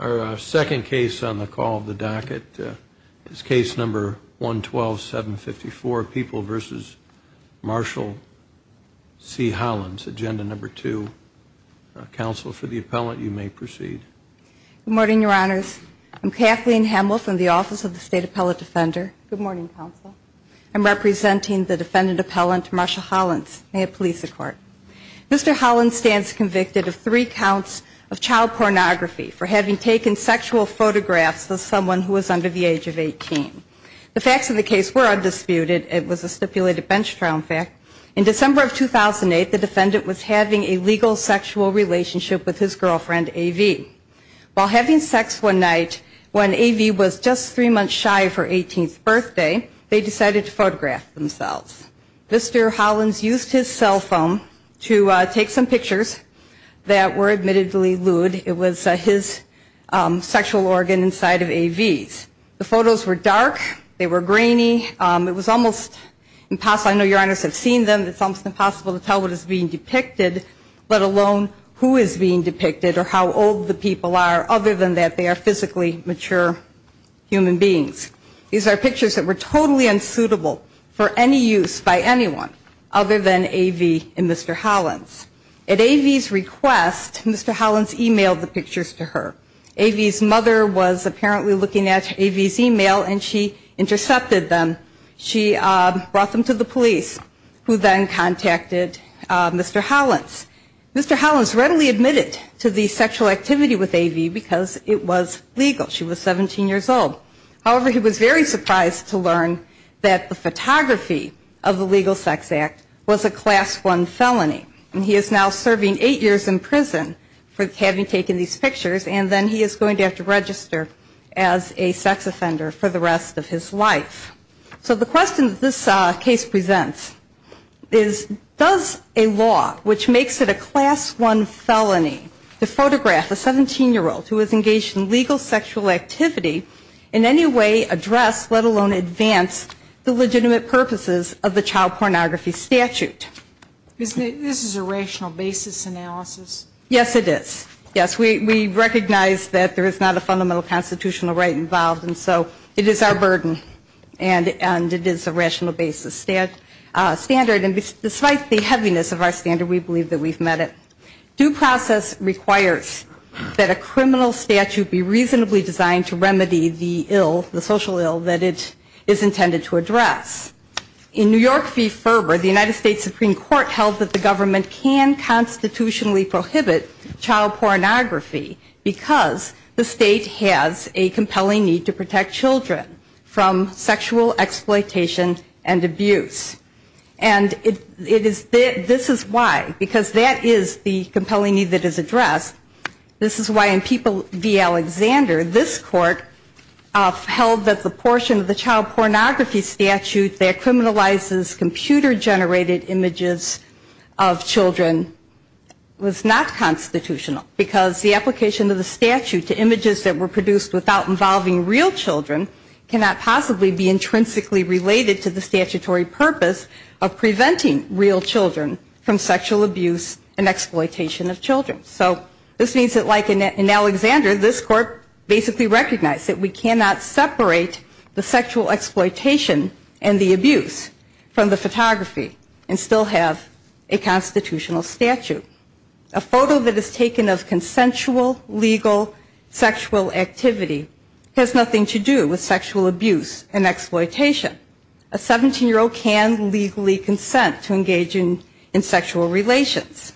Our second case on the call of the docket is case number 112-754, People v. Marshall C. Hollins, agenda number 2. Counsel for the appellant, you may proceed. Good morning, Your Honors. I'm Kathleen Hamel from the Office of the State Appellate Defender. Good morning, Counsel. I'm representing the defendant appellant, Marshall Hollins. May it please the Court. Mr. Hollins stands convicted of three counts of child pornography for having taken sexual photographs of someone who was under the age of 18. The facts of the case were undisputed. It was a stipulated bench trial in fact. In December of 2008, the defendant was having a legal sexual relationship with his girlfriend, A.V. While having sex one night, when A.V. was just three months shy of her 18th birthday, they decided to photograph themselves. Mr. Hollins used his cell phone to take some pictures that were admittedly lewd. It was his sexual organ inside of A.V.'s. The photos were dark. They were grainy. It was almost impossible. I know Your Honors have seen them. It's almost impossible to tell what is being depicted, let alone who is being depicted or how old the people are, other than that they are physically mature human beings. These are pictures that were totally unsuitable for any use by anyone other than A.V. and Mr. Hollins. At A.V.'s request, Mr. Hollins emailed the pictures to her. A.V.'s mother was apparently looking at A.V.'s email and she intercepted them. She brought them to the police who then contacted Mr. Hollins. Mr. Hollins readily admitted to the sexual activity with A.V. because it was legal. She was 17 years old. However, he was very surprised to learn that the photography of the Legal Sex Act was a Class I felony. And he is now serving eight years in prison for having taken these pictures and then he is going to have to register as a sex offender for the rest of his life. So the question that this case presents is does a law which makes it a Class I felony to photograph a 17-year-old who is engaged in legal sexual activity in any way address, let alone advance, the legitimate purposes of the Child Pornography Statute? This is a rational basis analysis? Yes, it is. Yes, we recognize that there is not a fundamental constitutional right involved and so it is our burden and it is a rational basis standard. And despite the heaviness of our standard, we believe that we've met it. Due process requires that a criminal statute be reasonably designed to remedy the social ill that it is intended to address. In New York v. Ferber, the United States Supreme Court held that the government can constitutionally prohibit child pornography because the state has a compelling need to protect children from sexual exploitation and abuse. And this is why, because that is the compelling need that is addressed, this is why in Peoples v. Alexander, this court held that the portion of the Child Pornography Statute that criminalizes computer-generated images of children was not constitutional because the application of the statute to images that were produced without involving real children cannot possibly be intrinsically related to the statutory purpose of preventing real children from sexual abuse and exploitation of children. So this means that like in Alexander, this court basically recognized that we cannot separate the sexual exploitation and the abuse from the photography and still have a constitutional statute. A photo that is taken of consensual legal sexual activity has nothing to do with sexual abuse and exploitation. A 17-year-old can legally consent to engage in sexual relations.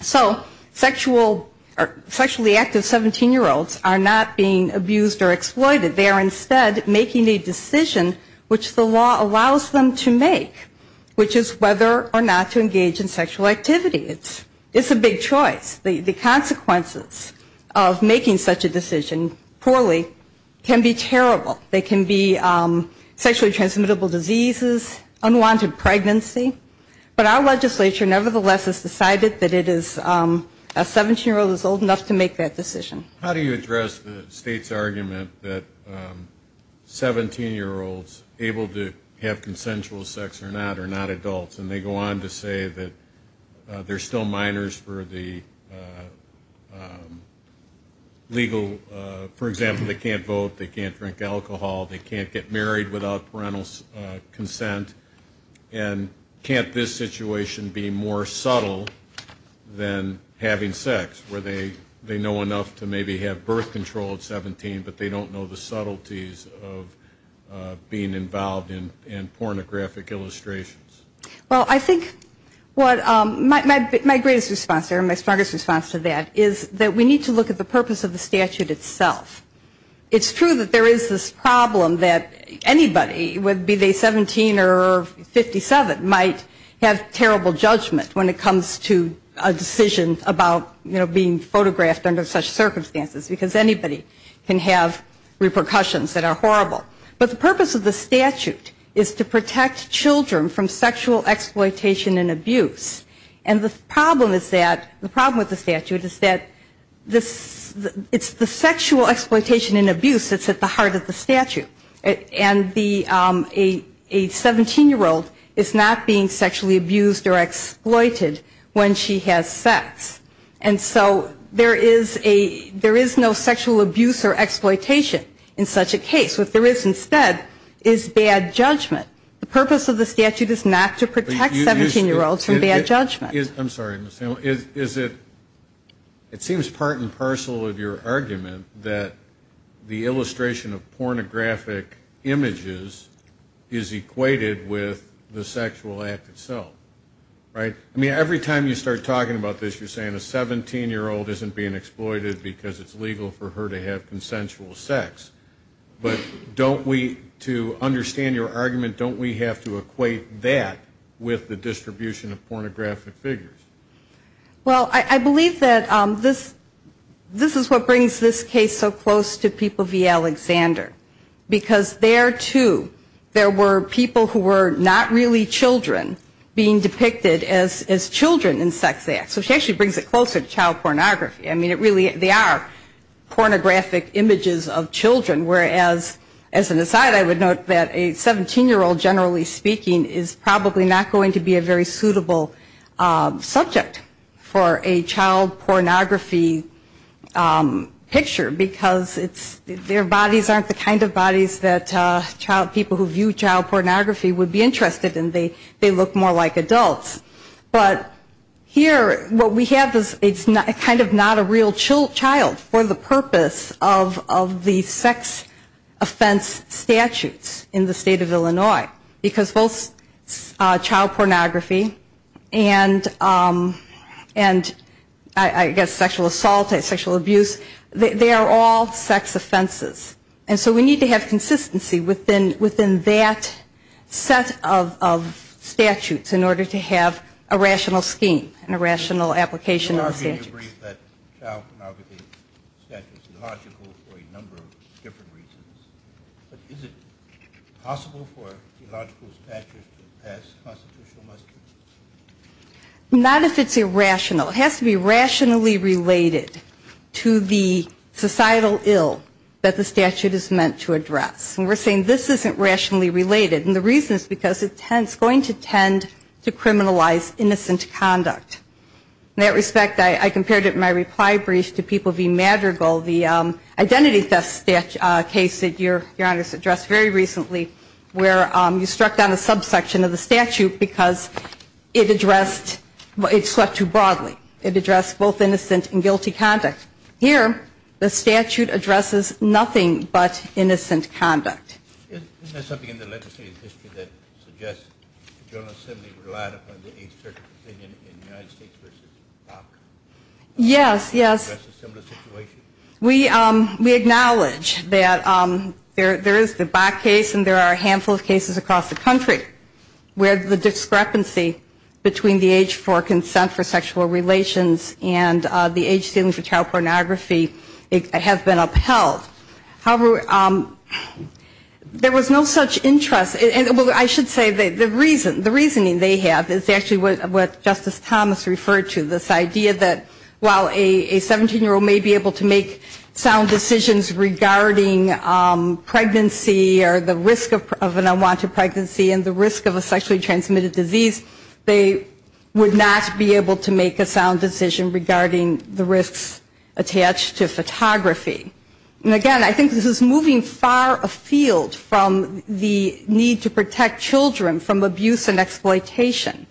So sexually active 17-year-olds are not being abused or exploited. They are instead making a decision which the law allows them to make, which is whether or not to engage in sexual activity. It's a big choice. The consequences of making such a decision poorly can be terrible. They can be sexually transmittable diseases, unwanted pregnancy. But our legislature nevertheless has decided that a 17-year-old is old enough to make that decision. How do you address the state's argument that 17-year-olds able to have consensual sex or not are not adults? And they go on to say that there are still minors for the legal, for example, they can't vote, they can't drink alcohol, they can't get married without parental consent, and can't this situation be more subtle than having sex where they know enough to maybe have birth control at 17 but they don't know the subtleties of being involved in pornographic illustrations? Well, I think what my greatest response to that is that we need to look at the purpose of the statute itself. It's true that there is this problem that anybody, be they 17 or 57, might have terrible judgment when it comes to a decision about being photographed under such circumstances because anybody can have repercussions that are horrible. But the purpose of the statute is to protect children from sexual exploitation and abuse. And the problem with the statute is that it's the sexual exploitation and abuse that's at the heart of the statute. And a 17-year-old is not being sexually abused or exploited when she has sex. And so there is no sexual abuse or exploitation in such a case. What there is instead is bad judgment. The purpose of the statute is not to protect 17-year-olds from bad judgment. I'm sorry, Ms. Sandlin. It seems part and parcel of your argument that the illustration of pornographic images is equated with the sexual act itself, right? I mean, every time you start talking about this, you're saying a 17-year-old isn't being exploited because it's legal for her to have consensual sex. But don't we, to understand your argument, don't we have to equate that with the distribution of pornographic figures? Well, I believe that this is what brings this case so close to people v. Alexander. Because there, too, there were people who were not really children being depicted as children in sex acts. So she actually brings it closer to child pornography. I mean, it really, they are pornographic images of children. Whereas, as an aside, I would note that a 17-year-old, generally speaking, is probably not going to be a very suitable subject for a child pornography picture because their bodies aren't the kind of bodies that people who view child pornography would be interested in. They look more like adults. But here, what we have is kind of not a real child for the purpose of the sex offense statutes in the state of Illinois. Because both child pornography and, I guess, sexual assault and sexual abuse, they are all sex offenses. And so we need to have consistency within that set of statutes in order to have a rational scheme and a rational application of the statutes. So are we to agree that child pornography statute is illogical for a number of different reasons? But is it possible for illogical statutes to pass constitutional muster? Not if it's irrational. It has to be rationally related to the societal ill that the statute is meant to address. And we're saying this isn't rationally related. And the reason is because it's going to tend to criminalize innocent conduct. In that respect, I compared it in my reply brief to People v. Madrigal, the identity theft case that Your Honor has addressed very recently, where you struck down a subsection of the statute because it addressed, it swept too broadly. It addressed both innocent and guilty conduct. Here, the statute addresses nothing but innocent conduct. Isn't there something in the legislative history that suggests the General Assembly relied upon the Eighth Circuit in the United States v. Bok? Yes, yes. Is that a similar situation? We acknowledge that there is the Bok case and there are a handful of cases across the country where the discrepancy between the age for consent for sexual relations and the age ceiling for child pornography have been upheld. However, there was no such interest. I should say the reasoning they have is actually what Justice Thomas referred to, this idea that while a 17-year-old may be able to make sound decisions regarding pregnancy or the risk of an unwanted pregnancy and the risk of a sexually transmitted disease, they would not be able to make a sound decision regarding the risks attached to photography. And again, I think this is moving far afield from the need to protect children from abuse and exploitation.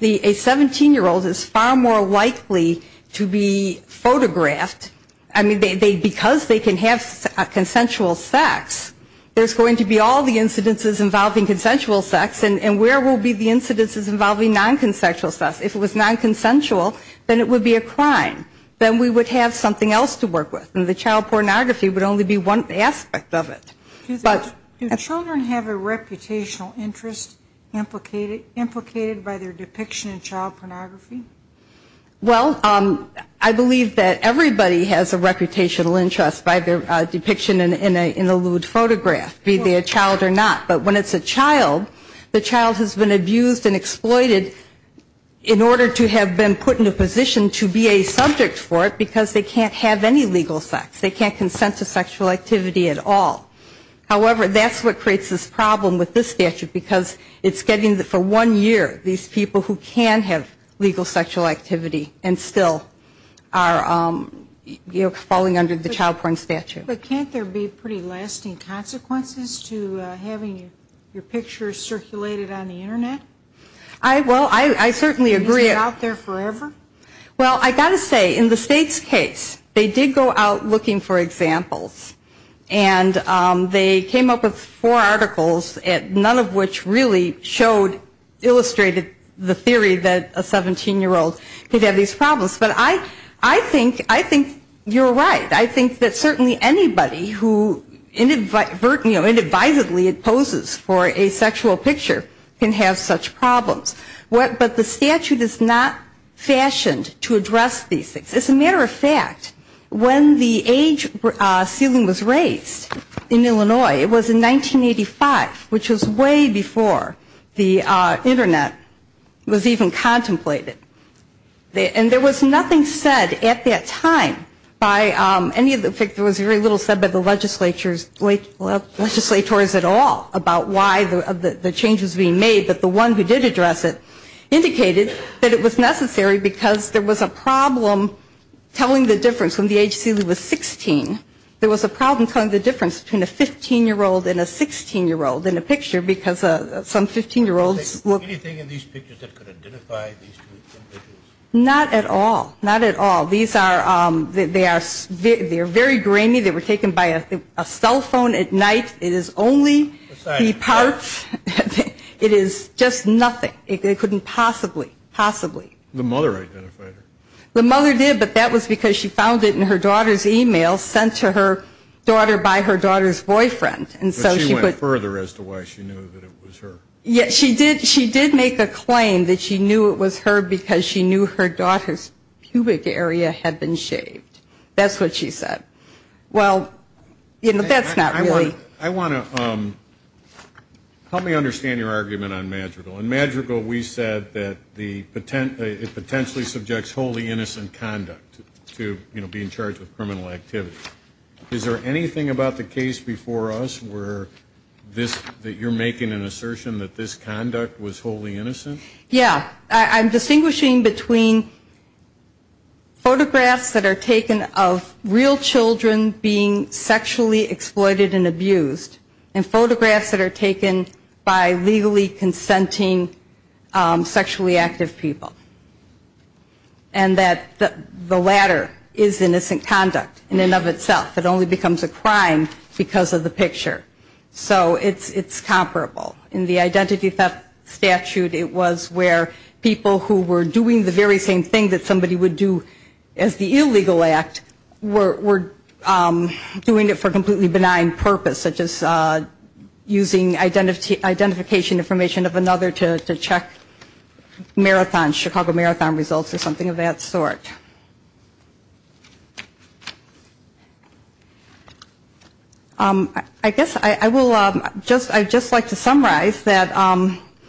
A 17-year-old is far more likely to be photographed. I mean, because they can have consensual sex, there's going to be all the incidences involving consensual sex, and where will be the incidences involving nonconsensual sex? If it was nonconsensual, then it would be a crime. Then we would have something else to work with, and the child pornography would only be one aspect of it. Do children have a reputational interest implicated by their depiction in child pornography? Well, I believe that everybody has a reputational interest by their depiction in a lewd photograph, be they a child or not. But when it's a child, the child has been abused and exploited in order to have been put in a position to be a subject for it, because they can't have any legal sex, they can't consent to sexual activity at all. However, that's what creates this problem with this statute, because it's getting for one year, these people who can have legal sexual activity and still are, you know, falling under the child porn statute. But can't there be pretty lasting consequences to having your pictures circulated on the Internet? Well, I certainly agree. Well, I've got to say, in the state's case, they did go out looking for examples. And they came up with four articles, none of which really showed, illustrated the theory that a 17-year-old could have these problems. But I think you're right. I think that certainly anybody who inadvertently imposes for a sexual picture can have such problems. But the statute is not fashioned to address these things. As a matter of fact, when the age ceiling was raised in Illinois, it was in 1985, which was way before the Internet was even contemplated. And there was nothing said at that time by any of the, there was very little said by the legislatures at all about why the change was being made. But the one who did address it indicated that it was necessary because there was a problem telling the difference when the age ceiling was 16. There was a problem telling the difference between a 15-year-old and a 16-year-old in a picture because some 15-year-olds were. Anything in these pictures that could identify these two individuals? Not at all. Not at all. These are, they are very grainy. They were taken by a cell phone at night. It is only the parts, it is just nothing. It couldn't possibly, possibly. The mother identified her. The mother did, but that was because she found it in her daughter's e-mail sent to her daughter by her daughter's boyfriend. But she went further as to why she knew that it was her. She did make a claim that she knew it was her because she knew her daughter's pubic area had been shaved. That's what she said. Well, that's not really. I want to, help me understand your argument on Madrigal. In Madrigal we said that the, it potentially subjects wholly innocent conduct to, you know, being charged with criminal activity. Is there anything about the case before us where this, that you're making an assertion that this conduct was wholly innocent? Yeah. I'm distinguishing between photographs that are taken of real children being sexually exploited and abused, and photographs that are taken by legally consenting sexually active people. And that the latter is innocent conduct in and of itself. It only becomes a crime because of the picture. So it's comparable. In the identity theft statute it was where people who were doing the very same thing that somebody would do as the illegal act were doing it for completely benign purpose, such as using identification information of another to check marathons, Chicago Marathon results or something of that sort. I guess I will just, I'd just like to summarize that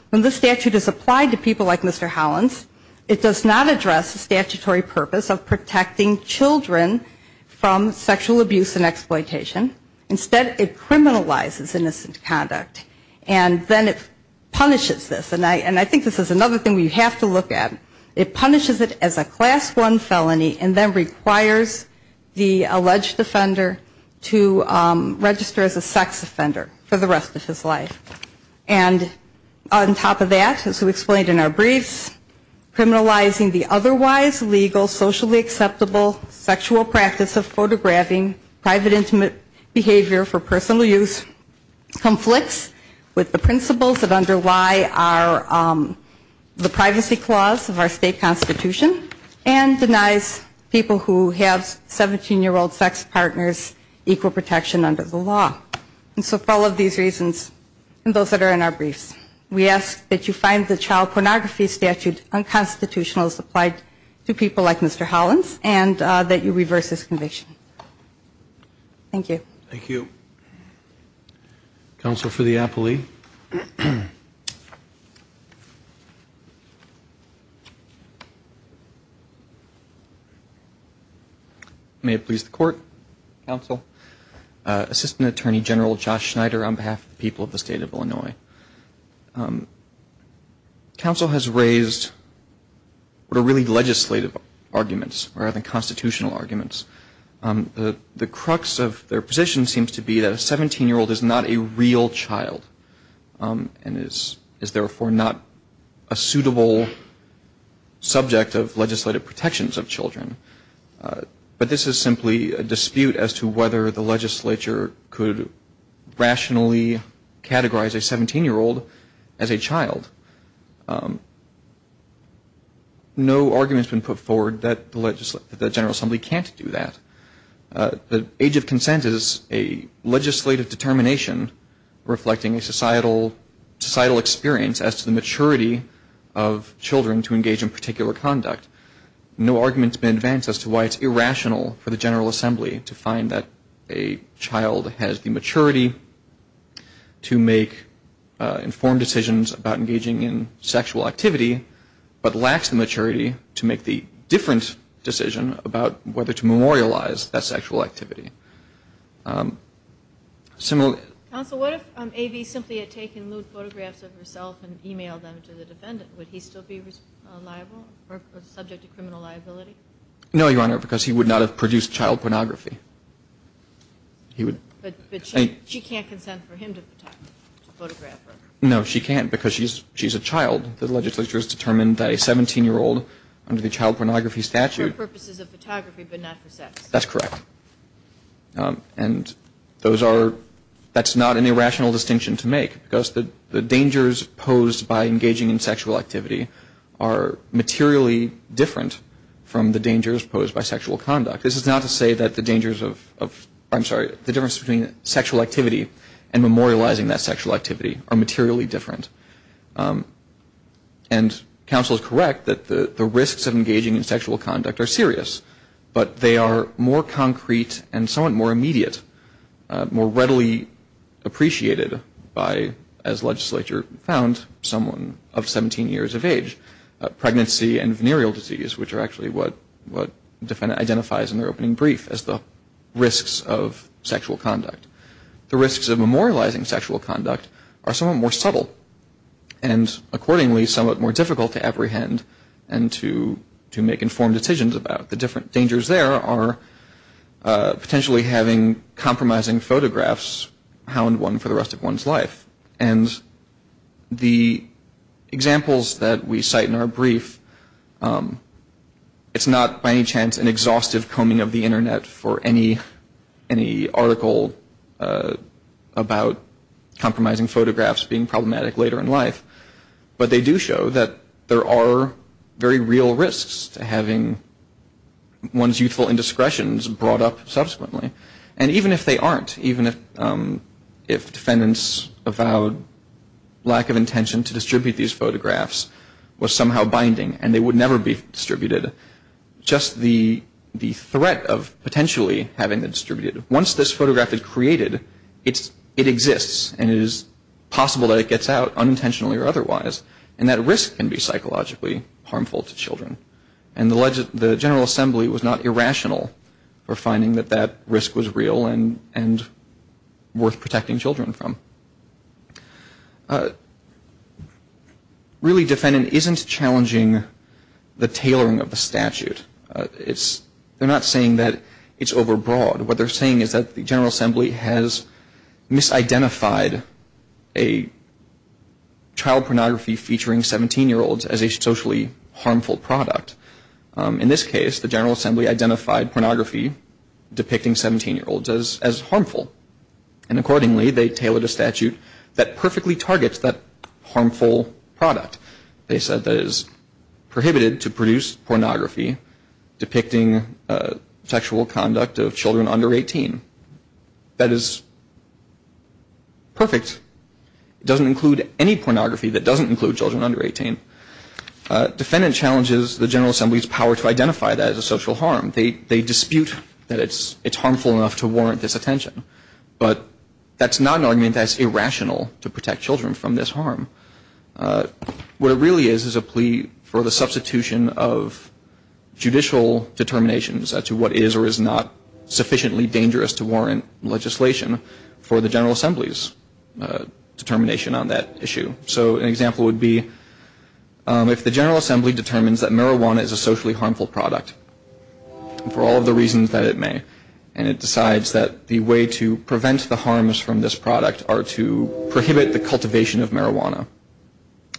when this statute is applied to people like Mr. Hollins, it does not address the statutory purpose of protecting children from sexual abuse and exploitation. Instead it criminalizes innocent conduct. And then it punishes this. And I think this is another thing we have to look at. It punishes it as a class one felony and then requires the alleged offender to register as a sex offender for the rest of his life. And on top of that, as we explained in our briefs, criminalizing the otherwise legal, socially acceptable sexual practice of photographing private intimate behavior for personal use conflicts with the principles that underlie our statute. It also violates the privacy clause of our state constitution and denies people who have 17-year-old sex partners equal protection under the law. And so for all of these reasons and those that are in our briefs, we ask that you find the child pornography statute unconstitutional as applied to people like Mr. Hollins and that you reverse this conviction. Thank you. Thank you. May it please the court. Counsel, Assistant Attorney General Josh Schneider on behalf of the people of the state of Illinois. Counsel has raised what are really legislative arguments rather than constitutional arguments. The crux of their position seems to be that a 17-year-old is not a real child and is therefore not a suitable subject of legislative protections of children. But this is simply a dispute as to whether the legislature could rationally categorize a 17-year-old as a child. No argument has been put forward that the General Assembly can't do that. The age of consent is a legislative determination reflecting a societal experience as to the maturity of children to engage in particular conduct. No argument has been advanced as to why it's irrational for the General Assembly to find that a child has the maturity to make informed decisions about engaging in sexual activity but lacks the maturity to make the different decision about whether to memorialize that sexual activity. Counsel, what if A.B. simply had taken lewd photographs of herself and emailed them to the defendant? Would he still be liable or subject to criminal liability? No, Your Honor, because he would not have produced child pornography. But she can't consent for him to photograph her. No, she can't because she's a child. The legislature has determined that a 17-year-old under the Child Pornography Statute. For purposes of photography but not for sex. That's correct. And those are, that's not an irrational distinction to make. Because the dangers posed by engaging in sexual activity are materially different from the dangers posed by sexual conduct. This is not to say that the dangers of, I'm sorry, the difference between sexual activity and memorializing that sexual activity are materially different. And counsel is correct that the risks of engaging in sexual conduct are serious. But they are more concrete and somewhat more immediate. More readily appreciated by, as legislature found, someone of 17 years of age. Pregnancy and venereal disease, which are actually what the defendant identifies in their opening brief as the risks of sexual conduct, are somewhat more subtle. And accordingly, somewhat more difficult to apprehend and to make informed decisions about. The different dangers there are potentially having compromising photographs. Hound one for the rest of one's life. And the examples that we cite in our brief, it's not by any chance an exhaustive combing of the Internet for any article about compromising photographs being problematic later in life. But they do show that there are very real risks to having one's youthful indiscretions brought up subsequently. And even if they aren't, even if defendants avowed lack of intention to distribute these photographs was somehow binding. And they would never be distributed. Just the threat of potentially having them distributed. Once this photograph is created, it exists. And it is possible that it gets out, unintentionally or otherwise. And that risk can be psychologically harmful to children. And the general assembly was not irrational for finding that that risk was real and worth protecting children from. Really defendant isn't challenging the tailoring of the statute. It's they're not saying that it's overbroad. What they're saying is that the General Assembly has misidentified a child pornography featuring 17 year olds as a socially harmful product. In this case, the General Assembly identified pornography depicting 17 year olds as harmful. And accordingly, they tailored a statute that perfectly targets that harmful product. They said that is prohibited to produce pornography depicting sexual conduct of children under 18. That is perfect. It doesn't include any pornography that doesn't include children under 18. Defendant challenges the General Assembly's power to identify that as a social harm. They dispute that it's harmful enough to warrant this attention. But that's not an argument that's irrational to protect children from this harm. What it really is is a plea for the substitution of judicial determinations as to what is or is not sufficiently dangerous to warrant legislation for the General Assembly's determination on that issue. So an example would be if the General Assembly determines that marijuana is a socially harmful product for all of the reasons that it may. And it decides that the way to prevent the harms from this product are to prohibit the cultivation of marijuana.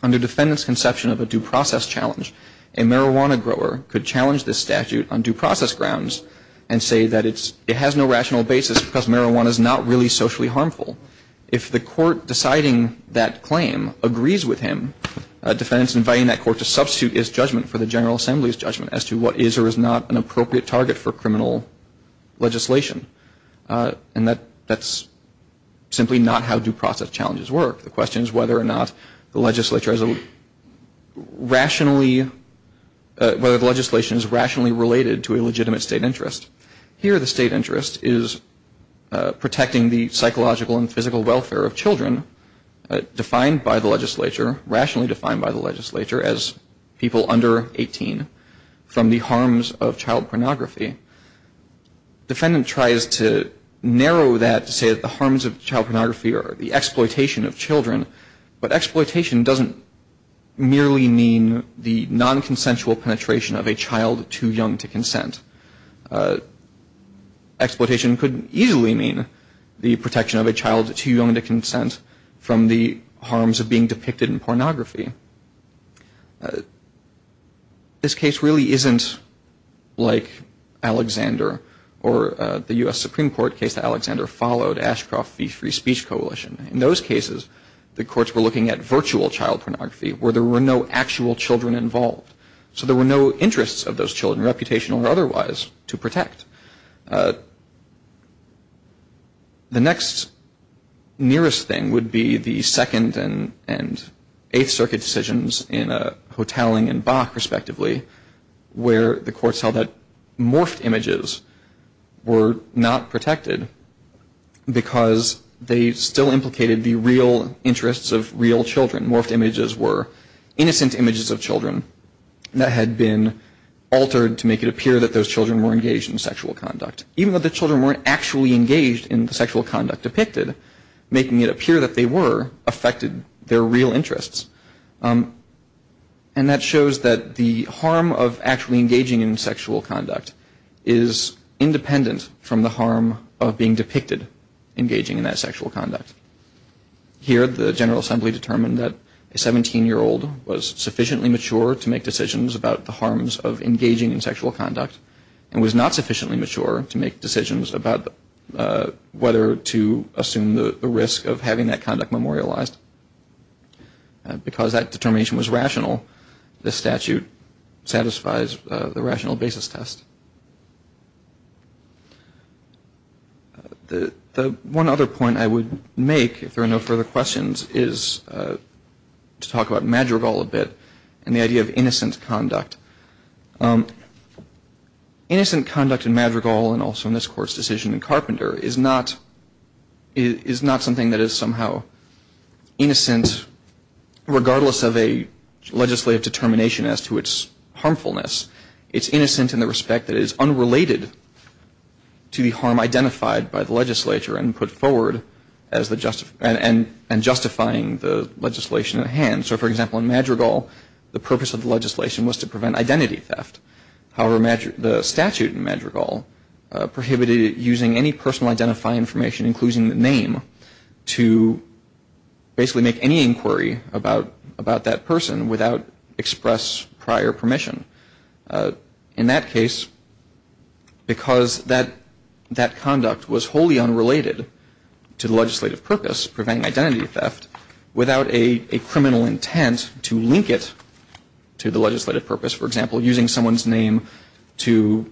Under defendant's conception of a due process challenge, a marijuana grower could challenge this statute on due process grounds and say that it has no rational basis because marijuana is not really socially harmful. If the court deciding that claim agrees with him, a defendant is inviting that court to substitute his judgment for the General Assembly's judgment as to what is or is not an appropriate target for criminal legislation. And that's simply not how due process challenges work. The question is whether or not the legislature is rationally, whether the legislation is rationally related to a legitimate state interest. Here the state interest is protecting the psychological and physical welfare of children defined by the legislature, rationally defined by the legislature as people under 18 from the harms of child pornography. Defendant tries to narrow that to say that the harms of child pornography are the exploitation of children, but exploitation doesn't merely mean the nonconsensual penetration of a child too young to consent. Exploitation could easily mean the protection of a child too young to consent from the harms of being depicted in pornography. This case really isn't like Alexander or the U.S. Supreme Court case that Alexander followed, Ashcroft v. Free Speech Coalition. In those cases, the courts were looking at virtual child pornography where there were no actual children involved. So there were no interests of those children, reputational or otherwise, to protect. The next nearest thing would be the Second and Eighth Circuit decisions in Hotelling and Bach, respectively, where the courts held that morphed images were not protected because they still implicated the real interests of real children. Morphed images were innocent images of children that had been altered to make it appear that those children were engaged in sexual conduct. Even though the children weren't actually engaged in the sexual conduct depicted, making it appear that they were affected their real interests. And that shows that the harm of actually engaging in sexual conduct is independent from the harm of being depicted engaging in that sexual conduct. Here, the General Assembly determined that a 17-year-old was sufficiently mature to make decisions about the harms of engaging in sexual conduct and was not sufficiently mature to make decisions about whether to assume the risk of having that conduct memorialized. Because that determination was rational, the statute satisfies the rational basis test. The one other point I would make, if there are no further questions, is to talk about Madrigal a bit and the idea of innocent conduct. Innocent conduct in Madrigal and also in this Court's decision in Carpenter is not something that is somehow innocent, regardless of a legislative determination as to its harmfulness. It's innocent in the respect that it is unrelated to the harm identified by the legislature and put forward and justifying the legislation at hand. So, for example, in Madrigal, the purpose of the legislation was to prevent identity theft. However, the statute in Madrigal prohibited using any personal identifying information, including the name, to basically make any inquiry about that person without express prior permission. In that case, because that conduct was wholly unrelated to the legislative purpose, preventing identity theft, without a criminal intent to link it to the legislative purpose, for example, using someone's name to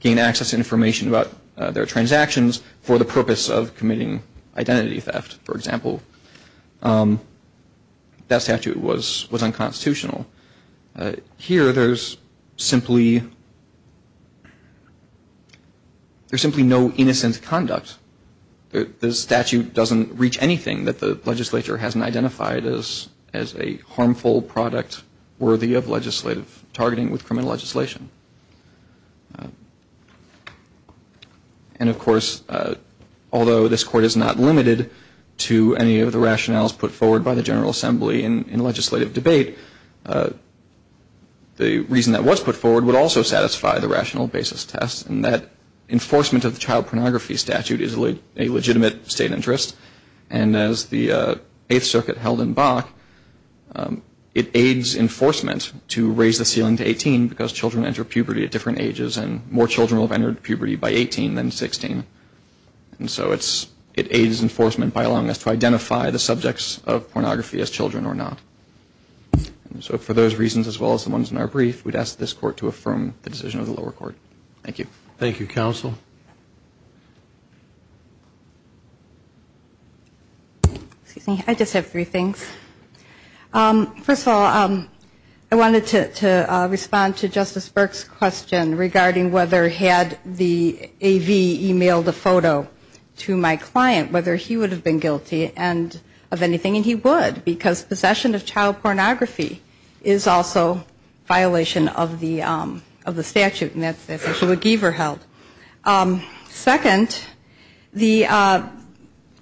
gain access to information about their transactions for the purpose of committing identity theft, for example, that statute was unconstitutional. Here, there's simply no innocent conduct. The statute doesn't reach anything that the legislature hasn't identified as a harmful product worthy of legislative targeting with criminal legislation. And, of course, although this Court is not limited to any of the rationales put forward by the General Assembly in legislative debate, the reason that was put forward would also satisfy the rational basis test in that enforcement of the child pornography statute is a legitimate state interest. And as the Eighth Circuit held in Bach, it aids enforcement to raise the ceiling to 18 because children enter puberty at different ages and more children will have entered puberty by 18 than 16. And so it aids enforcement by allowing us to identify the subjects of pornography as children or not. So for those reasons, as well as the ones in our brief, we'd ask this Court to affirm the decision of the lower court. Thank you. Thank you, Counsel. I just have three things. First of all, I wanted to respond to Justice Burke's question regarding whether had the A.V. emailed a photo to my client, whether he would have been guilty of anything. And he would, because possession of child pornography is also a violation of the statute. And that's essentially what Giever held. Second,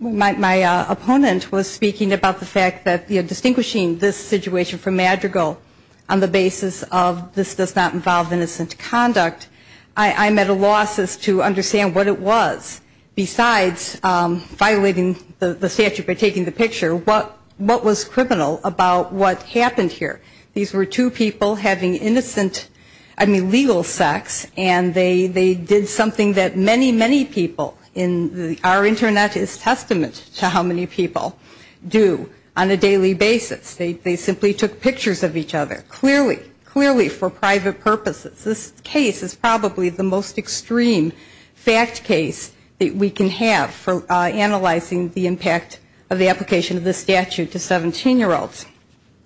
my opponent was speaking about the fact that distinguishing this situation from Madrigal on the basis of this does not involve innocent conduct, I'm at a loss as to understand what it was. Besides violating the statute by taking the picture, what was criminal about what happened here? These were two people having innocent, I mean legal sex, and they did something that many, many people in our Internet is testament to how many people do on a daily basis. They simply took pictures of each other, clearly, clearly for private purposes. This case is probably the most extreme fact case that we can have for analyzing the impact of the application of this statute to 17-year-olds,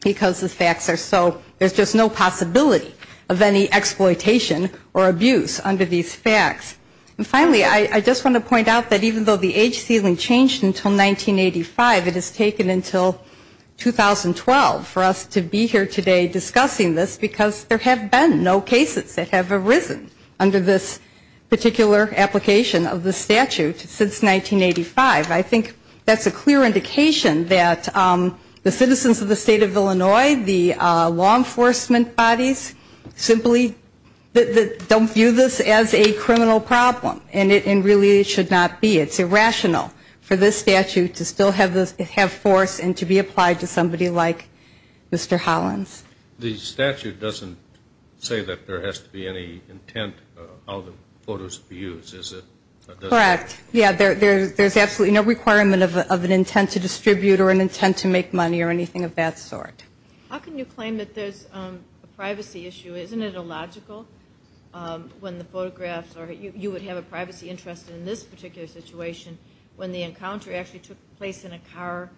because the facts are so, there's just no possibility of any exploitation or abuse under these facts. And finally, I just want to point out that even though the age ceiling changed until 1985, it has taken until 2012 for us to be here today discussing this, because there have been no cases that have arisen under this particular application of the statute since 1985. I think that's a clear indication that the citizens of the State of Illinois, the law enforcement bodies, simply don't view this as a criminal problem, and really it should not be. It's irrational for this statute to still have force and to be applied to somebody like Mr. Hollins. The statute doesn't say that there has to be any intent of how the photos be used, does it? Correct, yeah, there's absolutely no requirement of an intent to distribute or an intent to make money or anything of that sort. How can you claim that there's a privacy issue? Isn't it illogical when the photographs are, you would have a privacy interest in this particular situation when the encounter actually took place in a car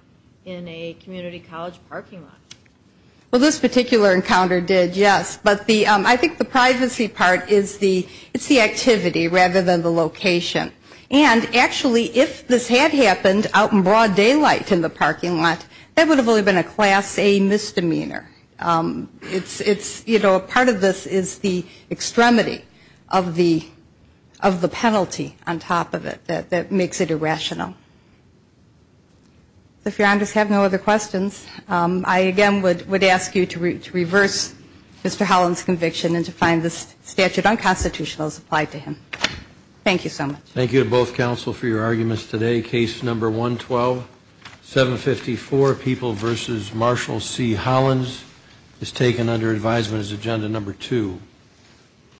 in a community college parking lot? Well, this particular encounter did, yes, but I think the privacy part is the activity rather than the location. And actually, if this had happened out in broad daylight in the parking lot, that would have only been a Class A misdemeanor. Part of this is the extremity of the penalty on top of it that makes it irrational. If your honors have no other questions, I again would ask you to reverse Mr. Hollins' conviction and to find the statute unconstitutional as applied to him. Thank you so much. Thank you to both counsel for your arguments today. Case number 112, 754, People v. Marshall C. Hollins, is taken under advisement as agenda number 2.